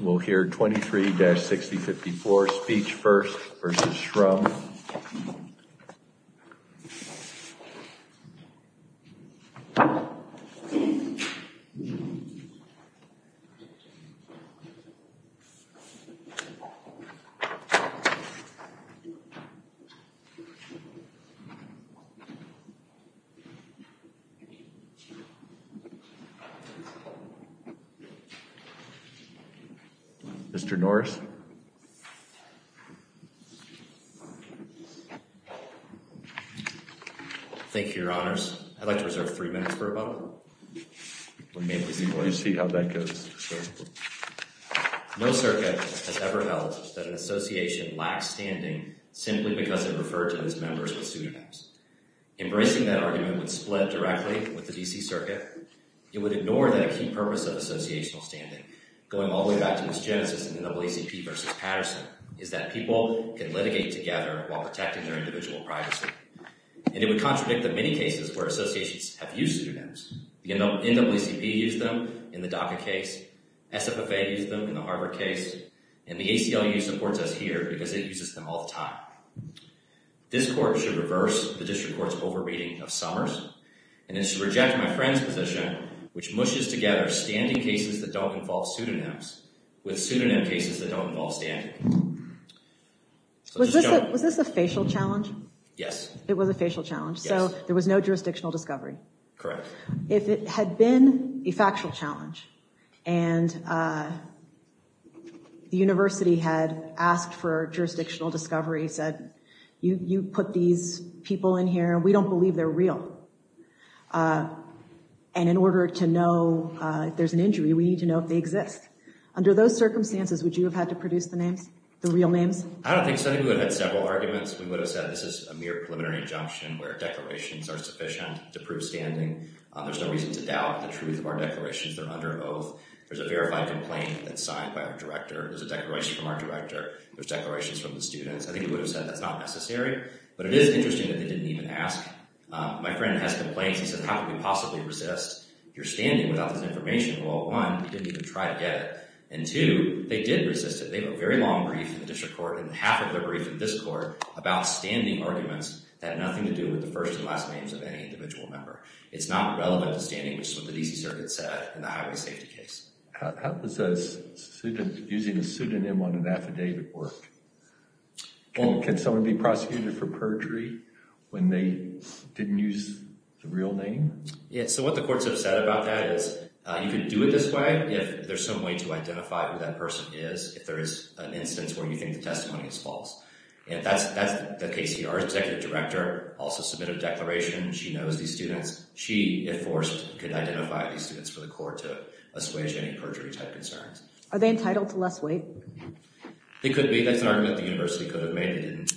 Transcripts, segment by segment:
We'll hear 23-6054 Speech First v. Shrum Mr. Norris Thank you, your honors. I'd like to reserve three minutes for a moment. We'll see how that goes. No circuit has ever held that an association lacks standing simply because it referred to its members with pseudonyms. Embracing that argument would split directly with the D.C. Circuit. It would ignore that a key purpose of associational standing, going all the way back to its genesis in NAACP v. Patterson, is that people can litigate together while protecting their individual privacy. And it would contradict the many cases where associations have used pseudonyms. The NAACP used them in the DACA case. SFFA used them in the Harvard case. And the ACLU supports us here because it uses them all the time. And it should reject my friend's position, which mushes together standing cases that don't involve pseudonyms with pseudonym cases that don't involve standing. Was this a facial challenge? Yes. It was a facial challenge. Yes. So there was no jurisdictional discovery. Correct. If it had been a factual challenge, and the university had asked for jurisdictional discovery, said, you put these people in here, and we don't believe they're real. And in order to know if there's an injury, we need to know if they exist. Under those circumstances, would you have had to produce the names, the real names? I don't think so. I think we would have had several arguments. We would have said this is a mere preliminary injunction where declarations are sufficient to prove standing. There's no reason to doubt the truth of our declarations. They're under oath. There's a verified complaint that's signed by our director. There's a declaration from our director. There's declarations from the students. We would have said that's not necessary. But it is interesting that they didn't even ask. My friend has complaints. He says, how could we possibly resist your standing without this information? Well, one, they didn't even try to get it. And two, they did resist it. They have a very long brief in the district court, and half of their brief in this court, about standing arguments that have nothing to do with the first and last names of any individual member. It's not relevant to standing, which is what the DC Circuit said in the highway safety case. How does using a pseudonym on an affidavit work? Well, can someone be prosecuted for perjury when they didn't use the real name? Yeah, so what the courts have said about that is you can do it this way if there's some way to identify who that person is, if there is an instance where you think the testimony is false. And that's the case. Our executive director also submitted a declaration. She knows these students. She, if forced, could identify these students for the court to assuage any perjury-type concerns. Are they entitled to less weight? They could be. That's an argument the university could have made. They didn't.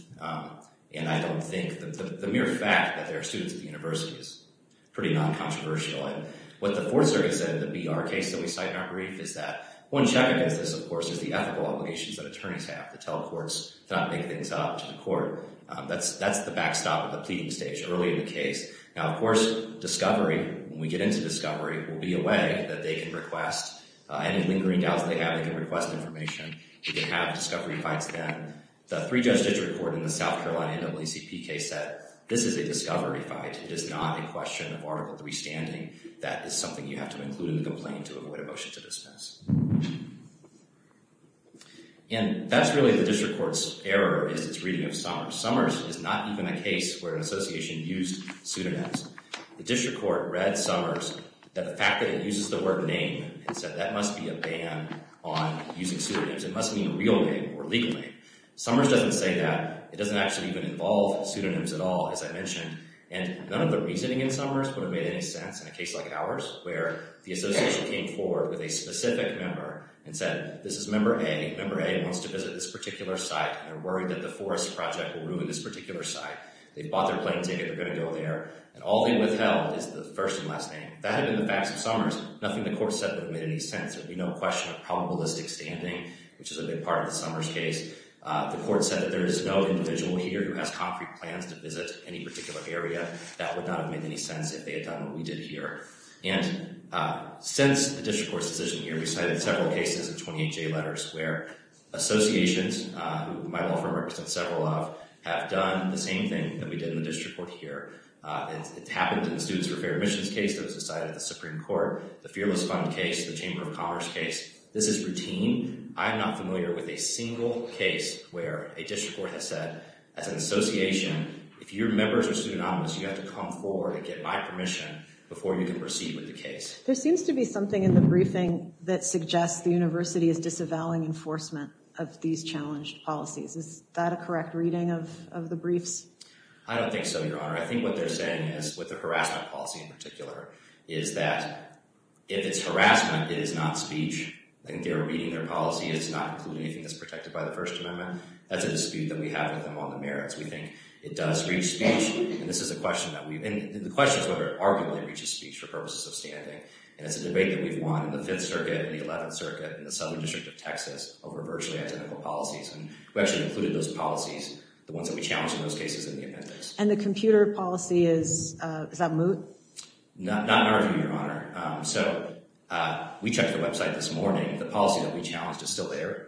And I don't think the mere fact that there are students at the university is pretty non-controversial. And what the Fourth Circuit said in the BR case that we cite in our brief is that one check against this, of course, is the ethical obligations that attorneys have to tell courts to not make things up to the court. That's the backstop of the pleading stage early in the case. Now, of course, discovery, when we get into discovery, will be a way that they can request any lingering doubts they have. They can request information. You can have discovery fights then. The three-judge district court in the South Carolina NAACP case said, this is a discovery fight. It is not a question of Article III standing. That is something you have to include in the complaint to avoid a motion to dismiss. And that's really the district court's error is its reading of Summers. Summers is not even a case where an association used pseudonyms. The district court read Summers that the fact that it uses the word name and said, that must be a ban on using pseudonyms. It must mean real name or legal name. Summers doesn't say that. It doesn't actually even involve pseudonyms at all, as I mentioned. And none of the reasoning in Summers would have made any sense in a case like ours, where the association came forward with a specific member and said, this is member A. Member A wants to visit this particular site. They're worried that the forest project will ruin this particular site. They bought their plane ticket. They're going to go there. And all they withheld is the first and last name. That had been the facts of Summers. Nothing the court said would have made any sense. It would be no question of probabilistic standing, which is a big part of the Summers case. The court said that there is no individual here who has concrete plans to visit any particular area. That would not have made any sense if they had done what we did here. And since the district court's decision here, we cited several cases of 28J letters, where associations, who my law firm represents several of, have done the same thing that we did in the district court here. It happened in the Students for Fair Admissions case that was decided at the Supreme Court, the Fearless Fund case, the Chamber of Commerce case. This is routine. I am not familiar with a single case where a district court has said, as an association, if your members are pseudonymous, you have to come forward and get my permission before you can proceed with the case. There seems to be something in the briefing that suggests the university is disavowing enforcement of these challenged policies. Is that a correct reading of the briefs? I don't think so, Your Honor. I think what they're saying is, with the harassment policy in particular, is that if it's harassment, it is not speech. They're reading their policy. It's not including anything that's protected by the First Amendment. That's a dispute that we have with them on the merits. We think it does reach speech. And the question is whether it arguably reaches speech for purposes of standing. And it's a debate that we've won in the Fifth Circuit and the Eleventh Circuit and the Southern District of Texas over virtually identical policies. And we actually included those policies, the ones that we challenged in those cases, in the amendments. And the computer policy, is that moot? Not at all, Your Honor. So we checked the website this morning. The policy that we challenged is still there.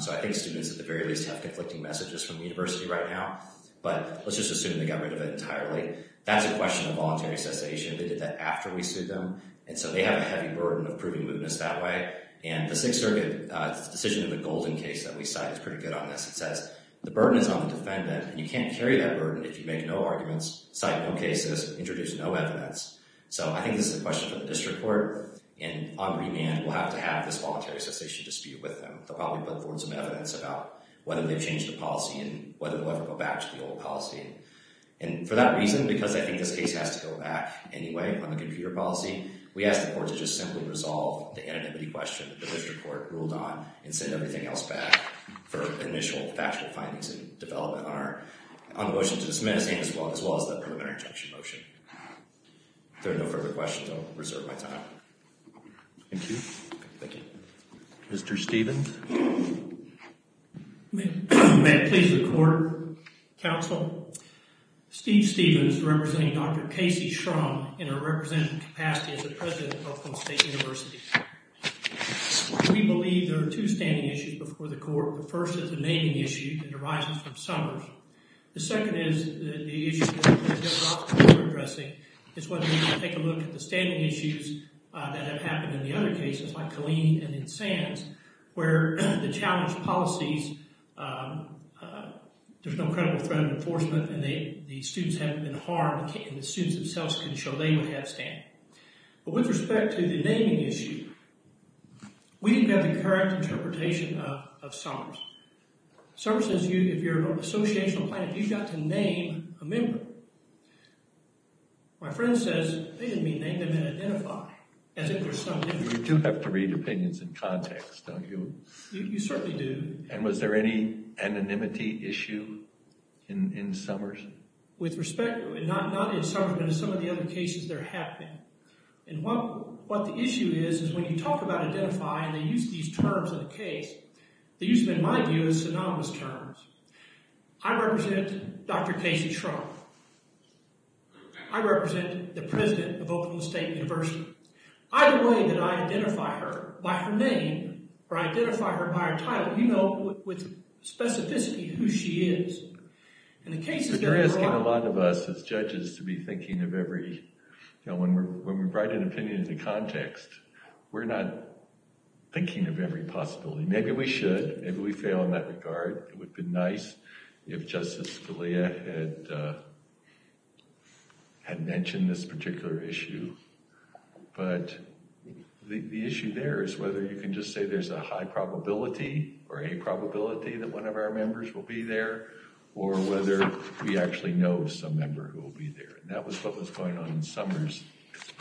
So I think students, at the very least, have conflicting messages from the university right now. But let's just assume they got rid of it entirely. That's a question of voluntary cessation. They did that after we sued them. And so they have a heavy burden of proving mootness that way. And the Sixth Circuit decision of the Golden case that we cite is pretty good on this. It says, the burden is on the defendant, and you can't carry that burden if you make no arguments, cite no cases, introduce no evidence. So I think this is a question for the district court. And on remand, we'll have to have this voluntary cessation dispute with them. They'll probably build forward some evidence about whether they've changed the policy and whether they'll ever go back to the old policy. And for that reason, because I think this case has to go back anyway on the computer policy, we ask the court to just simply resolve the anonymity question that the district court ruled on and send everything else back for initial factual findings and development on the motion to dismiss as well as the preliminary injunction motion. If there are no further questions, I'll reserve my time. Thank you. Thank you. Mr. Stevens? May it please the court, counsel? Steve Stevens, representing Dr. Casey Shrum in a representative capacity as the president of Oakland State University. We believe there are two standing issues before the court. The first is the naming issue that arises from Summers. The second is the issue that the general officer is addressing. It's whether we can take a look at the standing issues that have happened in the other cases, like Killeen and in Sands, where the challenge policies, there's no credible threat of enforcement and the students haven't been harmed and the students themselves can show they don't have a standing. But with respect to the naming issue, we didn't have the correct interpretation of Summers. Summers says if you're an associational plaintiff, you've got to name a member. My friend says they didn't mean name them and identify, as if there's some difference. You do have to read opinions in context, don't you? You certainly do. And was there any anonymity issue in Summers? With respect, not in Summers, but in some of the other cases there have been. And what the issue is, is when you talk about identifying, they use these terms in the case. They use them, in my view, as synonymous terms. I represent Dr. Casey Shrum. I represent the president of Oakland State University. Either way that I identify her, by her name or I identify her by her title, you know with specificity who she is. In the cases there are a lot of- It's risking a lot of us as judges to be thinking of every, when we write an opinion into context, we're not thinking of every possibility. Maybe we should, maybe we fail in that regard. It would be nice if Justice Scalia had mentioned this particular issue. But the issue there is whether you can just say there's a high probability or a probability that one of our members will be there, or whether we actually know some member who will be there. And that was what was going on in Summers.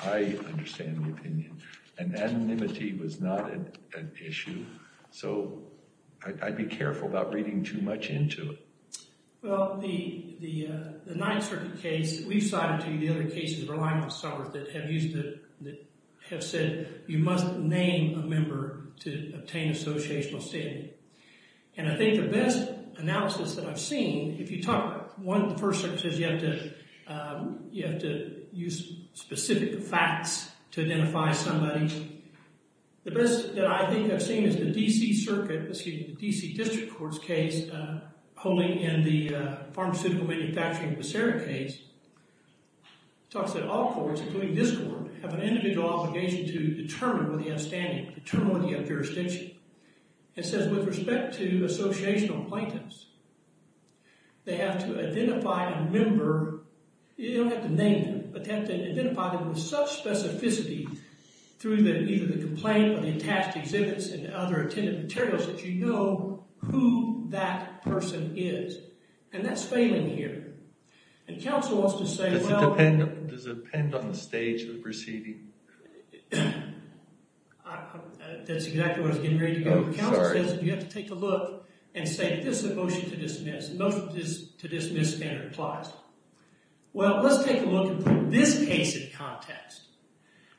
I understand the opinion. And anonymity was not an issue. So I'd be careful about reading too much into it. Well, the Ninth Circuit case, we've cited to you the other cases relying on Summers that have said you must name a member to obtain associational standing. And I think the best analysis that I've seen, if you talk about one, the First Circuit says you have to use specific facts to identify somebody. The best that I think I've seen is the D.C. Circuit, excuse me, the D.C. District Court's case, holding in the Pharmaceutical Manufacturing of Becerra case, talks that all courts, including this court, have an individual obligation to determine whether you have standing, determine whether you have jurisdiction. It says with respect to associational plaintiffs, they have to identify a member. You don't have to name them, but they have to identify them with such specificity through either the complaint or the attached exhibits and other attendant materials that you know who that person is. And that's failing here. And counsel wants to say, well... Does it depend on the stage of the proceeding? That's exactly what I was getting ready to go over. Counsel says you have to take a look and say, this is a motion to dismiss. Motion to dismiss and it applies. Well, let's take a look at this case in context.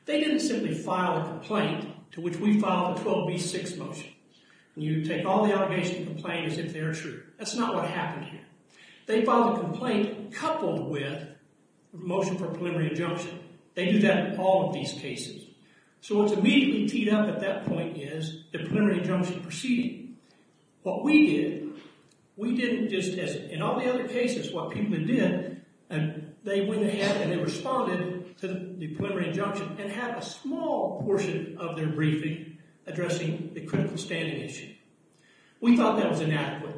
They didn't simply file a complaint to which we filed a 12B6 motion. You take all the allegations and complaints as if they're true. That's not what happened here. They filed a complaint coupled with a motion for preliminary injunction. They do that in all of these cases. So what's immediately teed up at that point is the preliminary injunction proceeding. What we did, we didn't just test it. In all the other cases, what people did, they went ahead and they responded to the preliminary injunction and had a small portion of their briefing addressing the critical standing issue. We thought that was inadequate.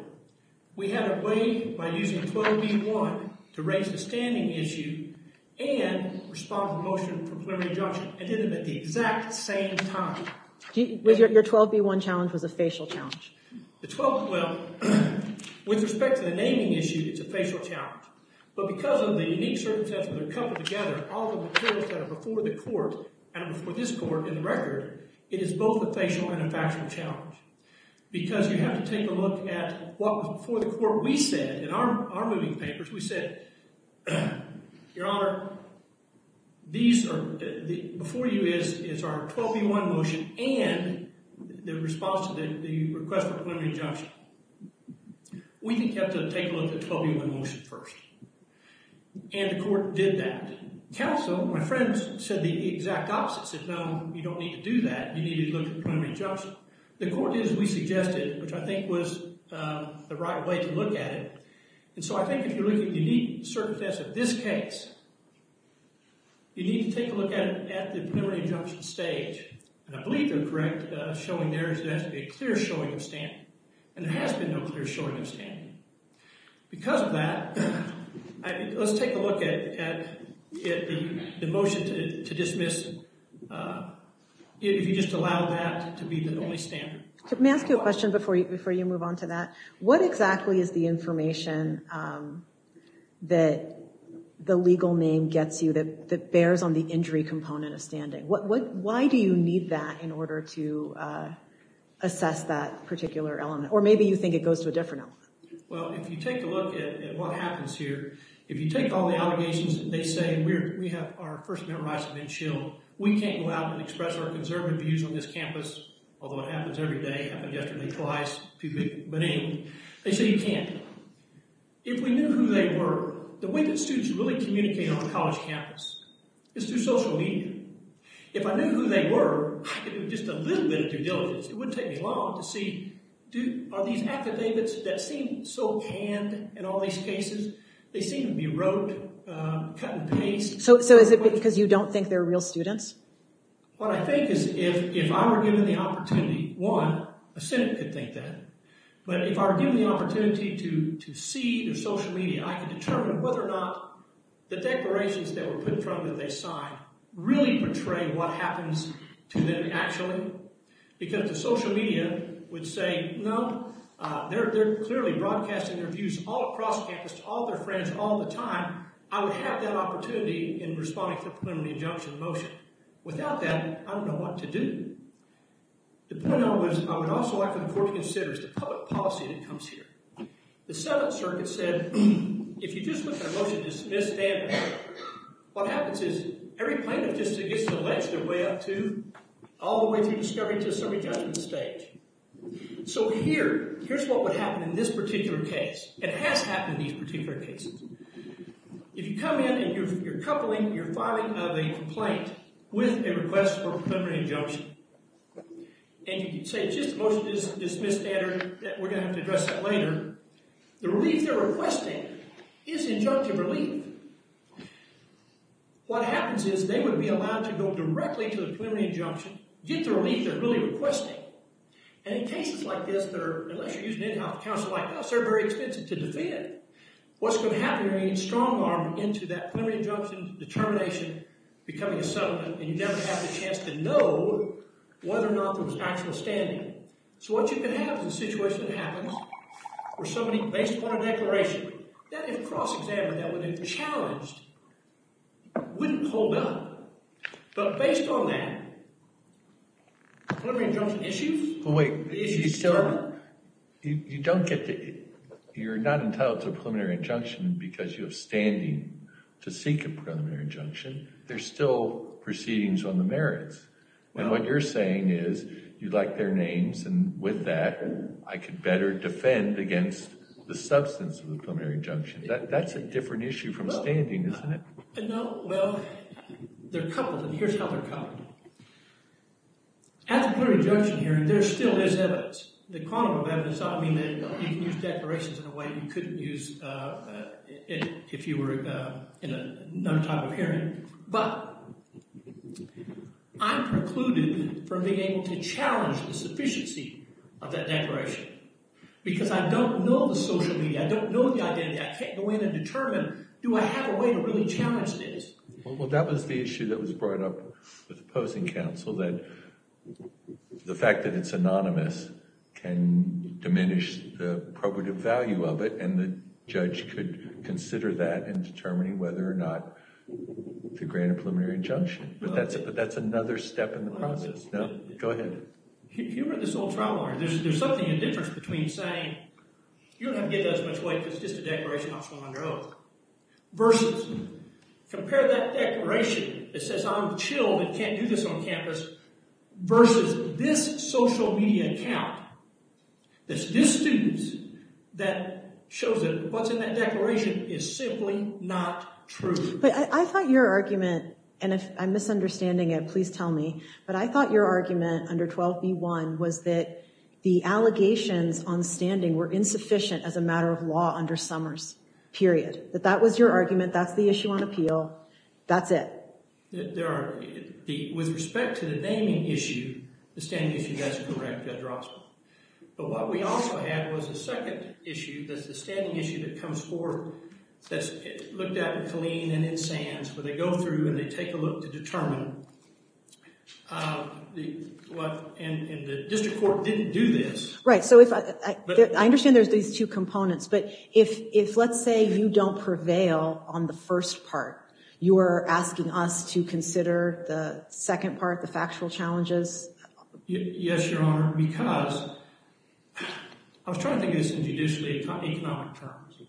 We had a way by using 12B1 to raise the standing issue and respond to the motion for preliminary injunction and did it at the exact same time. Your 12B1 challenge was a facial challenge. Well, with respect to the naming issue, it's a facial challenge. But because of the unique circumstances that are coupled together, all the materials that are before the court and before this court in the record, it is both a facial and a factual challenge. Because you have to take a look at what was before the court. We said in our moving papers, we said, Your Honor, before you is our 12B1 motion and the response to the request for preliminary injunction, we think you have to take a look at the 12B1 motion first. And the court did that. Counsel, my friend, said the exact opposite, said, No, you don't need to do that. You need to look at the preliminary injunction. The court did as we suggested, which I think was the right way to look at it. And so I think if you're looking at the unique circumstances of this case, you need to take a look at it at the preliminary injunction stage. And I believe they're correct showing there's a clear showing of standing. And there has been no clear showing of standing. Because of that, let's take a look at the motion to dismiss if you just allow that to be the only standard. Let me ask you a question before you move on to that. What exactly is the information that the legal name gets you that bears on the injury component of standing? Why do you need that in order to assess that particular element? Or maybe you think it goes to a different element. Well, if you take a look at what happens here, if you take all the allegations that they say, we have our First Amendment rights have been shielded, we can't go out and express our conservative views on this campus, although it happens every day, happened yesterday, twice, but anyway, they say you can't. If we knew who they were, the way that students really communicate on a college campus is through social media. If I knew who they were, I could do just a little bit of due diligence. It wouldn't take me long to see, are these affidavits that seem so canned in all these cases? They seem to be wrote, cut and paste. So is it because you don't think they're real students? What I think is if I were given the opportunity, one, a Senate could think that. But if I were given the opportunity to see through social media, I could determine whether or not the declarations that were put in front of me that they signed really portray what happens to them actually, because the social media would say, no, they're clearly broadcasting their views all across campus to all their friends all the time. I would have that opportunity in responding to the preliminary injunction motion. Without that, I don't know what to do. The point I would also like for the court to consider is the public policy that comes here. The Seventh Circuit said, if you just look at a motion to dismiss standard, what happens is every plaintiff just gets to ledge their way up to, all the way to discovery to a summary judgment stage. So here, here's what would happen in this particular case. It has happened in these particular cases. If you come in and you're coupling, you're filing a complaint with a request for a preliminary injunction, and you say, just a motion to dismiss standard, we're going to have to address that later, the relief they're requesting is injunctive relief. What happens is they would be allowed to go directly to the preliminary injunction, get the relief they're really requesting. And in cases like this, unless you're using in-house counsel like this, they're very expensive to defend. What's going to happen is you're going to need strong arm into that preliminary injunction determination becoming a settlement, and you never have the chance to know whether or not there was actual standing. So what you can have is a situation that happens where somebody, based on a declaration, that is cross-examined, that would have been challenged, wouldn't hold up. But based on that, preliminary injunction issues, the issue is settled. You don't get to, you're not entitled to a preliminary injunction because you have standing to seek a preliminary injunction. There's still proceedings on the merits. And what you're saying is you'd like their names, and with that I could better defend against the substance of the preliminary injunction. That's a different issue from standing, isn't it? No. Well, they're coupled, and here's how they're coupled. At the preliminary injunction hearing, there still is evidence. The quantum of evidence. I mean, you can use declarations in a way you couldn't use if you were in another type of hearing. But I'm precluded from being able to challenge the sufficiency of that declaration because I don't know the social media. I don't know the identity. I can't go in and determine, do I have a way to really challenge this? Well, that was the issue that was brought up with opposing counsel, that the fact that it's anonymous can diminish the probative value of it, and the judge could consider that in determining whether or not to grant a preliminary injunction. But that's another step in the process. Go ahead. If you were this old trial lawyer, there's something of a difference between saying, you don't have to give that as much weight because it's just a declaration optional under oath, versus compare that declaration that says I'm chilled and can't do this on campus, versus this social media account that's this student's that shows that what's in that declaration is simply not true. But I thought your argument, and if I'm misunderstanding it, please tell me, but I thought your argument under 12b-1 was that the allegations on standing were insufficient as a matter of law under Summers, period. That that was your argument. That's the issue on appeal. That's it. There are. With respect to the naming issue, the standing issue, that's correct, Judge Rossman. But what we also had was a second issue, that's the standing issue that comes forward, that's looked at in Colleen and in Sands, where they go through and they take a look to determine, and the district court didn't do this. Right. So I understand there's these two components, but if let's say you don't prevail on the first part, you are asking us to consider the second part, the factual challenges? Yes, Your Honor, because I was trying to think of this in judicially economic terms.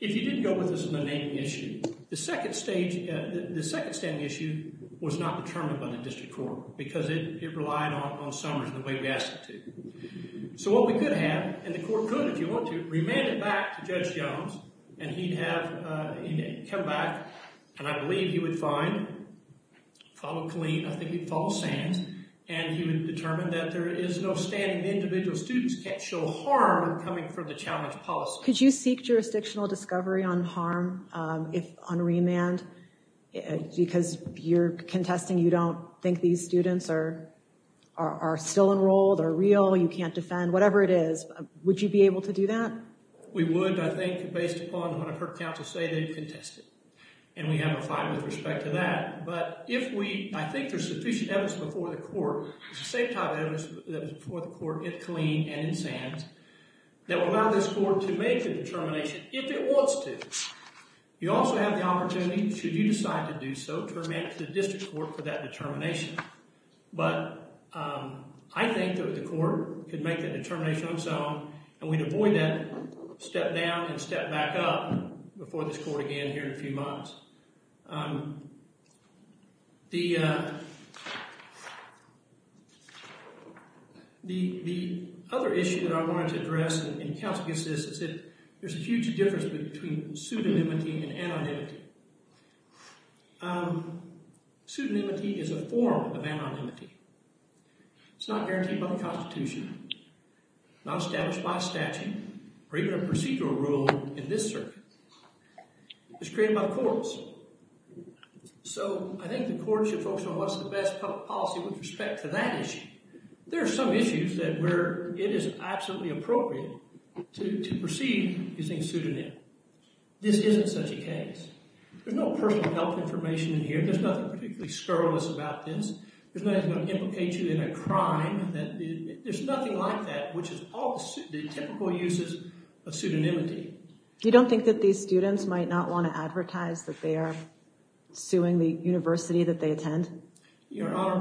If you didn't go with this in the naming issue, the second standing issue was not determined by the district court because it relied on Summers and the way we asked it to. So what we could have, and the court could, if you want to, remand it back to Judge Jones, and he'd have come back, and I believe he would find, follow Colleen, I think he'd follow Sands, and he would have determined that there is no standing individual students can't show harm coming from the challenge policy. Could you seek jurisdictional discovery on harm on remand? Because you're contesting, you don't think these students are still enrolled, are real, you can't defend, whatever it is. Would you be able to do that? We would, I think, based upon what I've heard counsel say they've contested, and we have a fine with respect to that. But if we, I think there's sufficient evidence before the court, it's the same type of evidence that was before the court in Colleen and in Sands, that would allow this court to make the determination, if it wants to. You also have the opportunity, should you decide to do so, to remand it to the district court for that determination. But I think that the court could make that determination on its own, and we'd avoid that step down and step back up before this court again here in a few months. The other issue that I wanted to address, and counsel gets this, is that there's a huge difference between pseudonymity and anonymity. Pseudonymity is a form of anonymity. It's not guaranteed by the Constitution, not established by statute, or even a procedural rule in this circuit. It's created by the courts. So I think the courts should focus on what's the best public policy with respect to that issue. There are some issues where it is absolutely appropriate to proceed using pseudonym. This isn't such a case. There's no personal health information in here. There's nothing particularly scurrilous about this. There's nothing that's going to implicate you in a crime. There's nothing like that, which is all the typical uses of pseudonymity. You don't think that these students might not want to advertise that they are suing the university that they attend? Your Honor,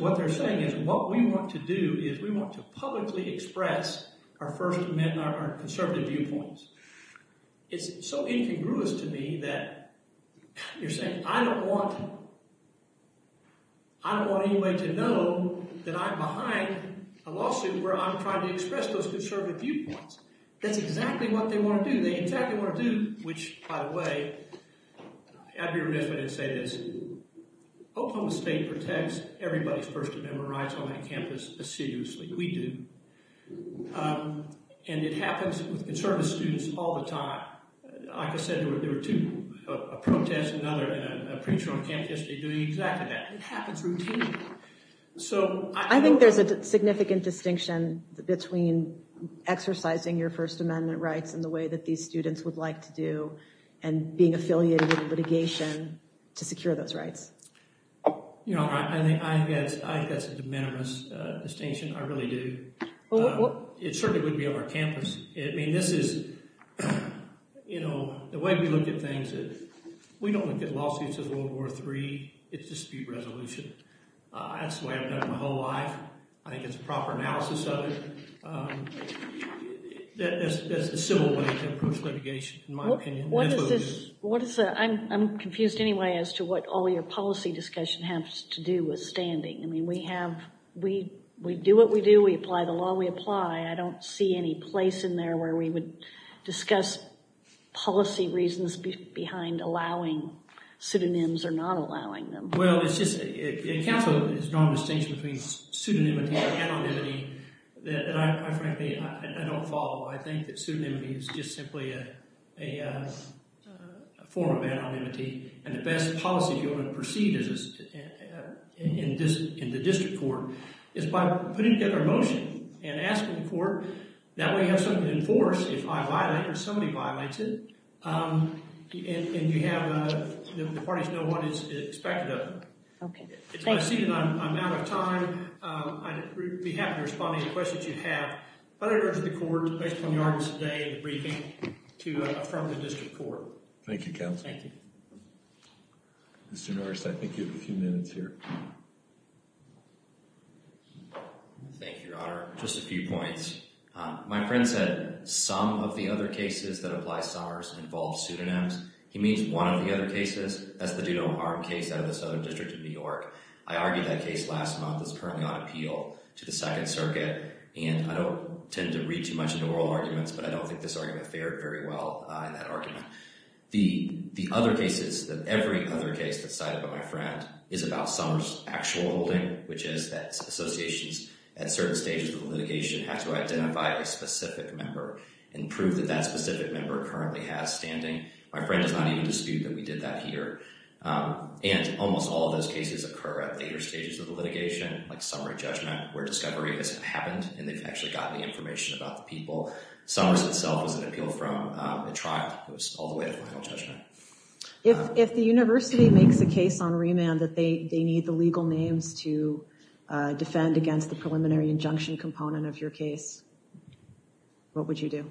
what they're saying is what we want to do is we want to publicly express our First Amendment and our conservative viewpoints. It's so incongruous to me that you're saying I don't want I don't want anybody to know that I'm behind a lawsuit where I'm trying to express those conservative viewpoints. That's exactly what they want to do. They exactly want to do, which, by the way, I'd be remiss if I didn't say this, Oklahoma State protects everybody's First Amendment rights on that campus assiduously. We do. And it happens with conservative students all the time. Like I said, there were two, a protest, another, and a preacher on campus yesterday doing exactly that. It happens routinely. I think there's a significant distinction between exercising your First Amendment rights in the way that these students would like to do and being affiliated with litigation to secure those rights. Your Honor, I think that's a de minimis distinction. I really do. It certainly wouldn't be on our campus. I mean, this is, you know, the way we look at things is we don't look at lawsuits as World War III. It's dispute resolution. That's the way I've done it my whole life. I think it's a proper analysis of it. That's a civil way to approach litigation, in my opinion. What is this? I'm confused anyway as to what all your policy discussion has to do with standing. I mean, we do what we do. We apply the law we apply. I don't see any place in there where we would discuss policy reasons behind allowing pseudonyms or not allowing them. Well, it's just, in counsel, there's a strong distinction between pseudonymity and anonymity that I frankly, I don't follow. I think that pseudonymity is just simply a form of anonymity. And the best policy if you want to proceed in the district court is by putting together a motion and asking the court, that way you have something to enforce if I violate it or somebody violates it. And you have the parties know what is expected of them. Okay. It's my seat and I'm out of time. I'd be happy to respond to any questions you have. But I urge the court, based on the arguments today and the briefing, to affirm the district court. Thank you, counsel. Thank you. Mr. Norris, I think you have a few minutes here. Thank you, Your Honor. Just a few points. My friend said some of the other cases that apply Summers involve pseudonyms. He means one of the other cases. That's the Dudo-Harm case out of the Southern District of New York. I argued that case last month. It's currently on appeal to the Second Circuit. And I don't tend to read too much into oral arguments, but I don't think this argument fared very well in that argument. The other cases, every other case that's cited by my friend is about Summers' actual holding, which is that associations at certain stages of litigation have to identify a specific member and prove that that specific member currently has standing. My friend does not even dispute that we did that here. And almost all of those cases occur at later stages of the litigation, like summary judgment, where discovery has happened and they've actually gotten the information about the people. Summers itself was an appeal from a trial. It was all the way to final judgment. If the university makes a case on remand that they need the legal names to defend against the preliminary injunction component of your case, what would you do?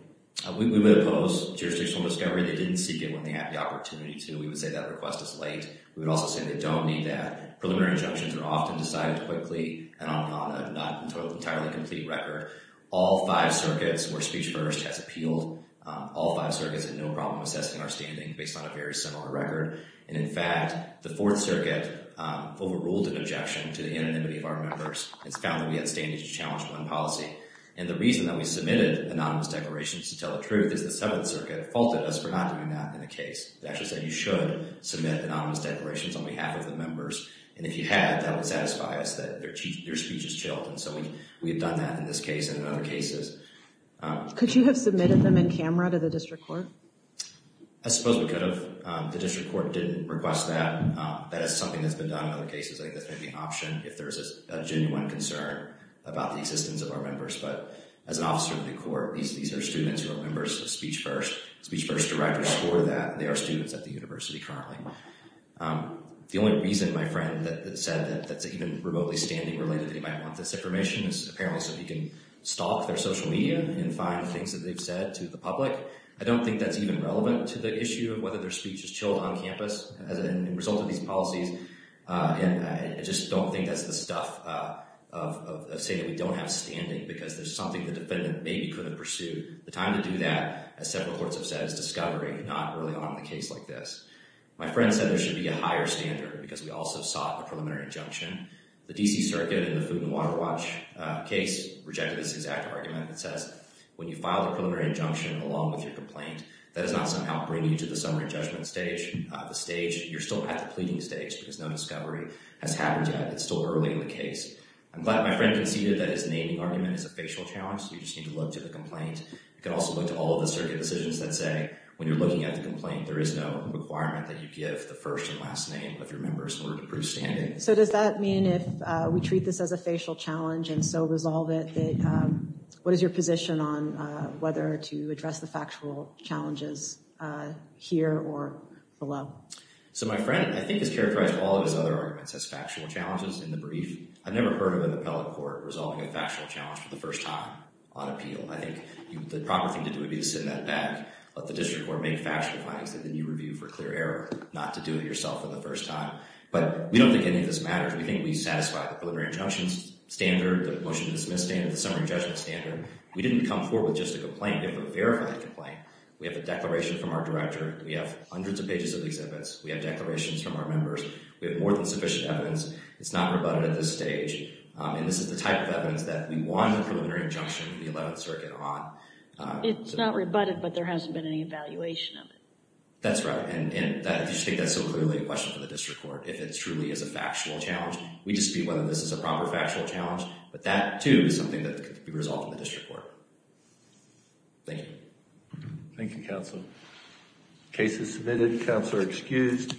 We would oppose jurisdictional discovery. They didn't seek it when they had the opportunity to. We would say that request is late. We would also say they don't need that. Preliminary injunctions are often decided quickly and on an entirely complete record. All five circuits where speech first has appealed, all five circuits had no problem assessing our standing based on a very similar record. And in fact, the Fourth Circuit overruled an objection to the anonymity of our members and found that we had standing to challenge one policy. And the reason that we submitted anonymous declarations to tell the truth is the Seventh Circuit faulted us for not doing that in the case. They actually said you should submit anonymous declarations on behalf of the members. And if you had, that would satisfy us that their speech is chilled. And so we had done that in this case and in other cases. Could you have submitted them in camera to the district court? I suppose we could have. The district court didn't request that. That is something that's been done in other cases. I think that's maybe an option if there's a genuine concern about the existence of our members. But as an officer of the court, these are students who are members of Speech First. Speech First directors score that. They are students at the university currently. The only reason, my friend, that said that's even remotely standing related that he might want this information is apparently so he can stalk their social media and find things that they've said to the public. I don't think that's even relevant to the issue of whether their speech is chilled on campus as a result of these policies. I just don't think that's the stuff of saying that we don't have standing because there's something the defendant maybe couldn't pursue. The time to do that, as several courts have said, is discovery, not early on in a case like this. My friend said there should be a higher standard because we also sought a preliminary injunction. The D.C. Circuit in the Food and Water Watch case rejected this exact argument that says when you file a preliminary injunction along with your complaint, that is not somehow bringing you to the summary judgment stage. You're still at the pleading stage because no discovery has happened yet. It's still early in the case. I'm glad my friend conceded that his naming argument is a facial challenge so you just need to look to the complaint. You can also look to all of the circuit decisions that say when you're looking at the complaint, there is no requirement that you give the first and last name of your members in order to prove standing. So does that mean if we treat this as a facial challenge and so resolve it, what is your position on whether to address the factual challenges here or below? So my friend, I think, has characterized all of his other arguments as factual challenges in the brief. I've never heard of an appellate court resolving a factual challenge for the first time on appeal. I think the proper thing to do would be to send that back. Let the district court make factual findings and then you review for clear error not to do it yourself for the first time. But we don't think any of this matters. We think we satisfy the preliminary injunctions standard, the motion to dismiss standard, the summary judgment standard. We didn't come forward with just a complaint. We have a verified complaint. We have a declaration from our director. We have hundreds of pages of exhibits. We have declarations from our members. We have more than sufficient evidence. It's not rebutted at this stage. And this is the type of evidence that we want a preliminary injunction in the 11th Circuit on. It's not rebutted, but there hasn't been any evaluation of it. That's right. And I think that's so clearly a question for the district court if it truly is a factual challenge. We dispute whether this is a proper factual challenge, but that, too, is something that could be resolved in the district court. Thank you. Thank you, counsel. Case is submitted. Counsel are excused.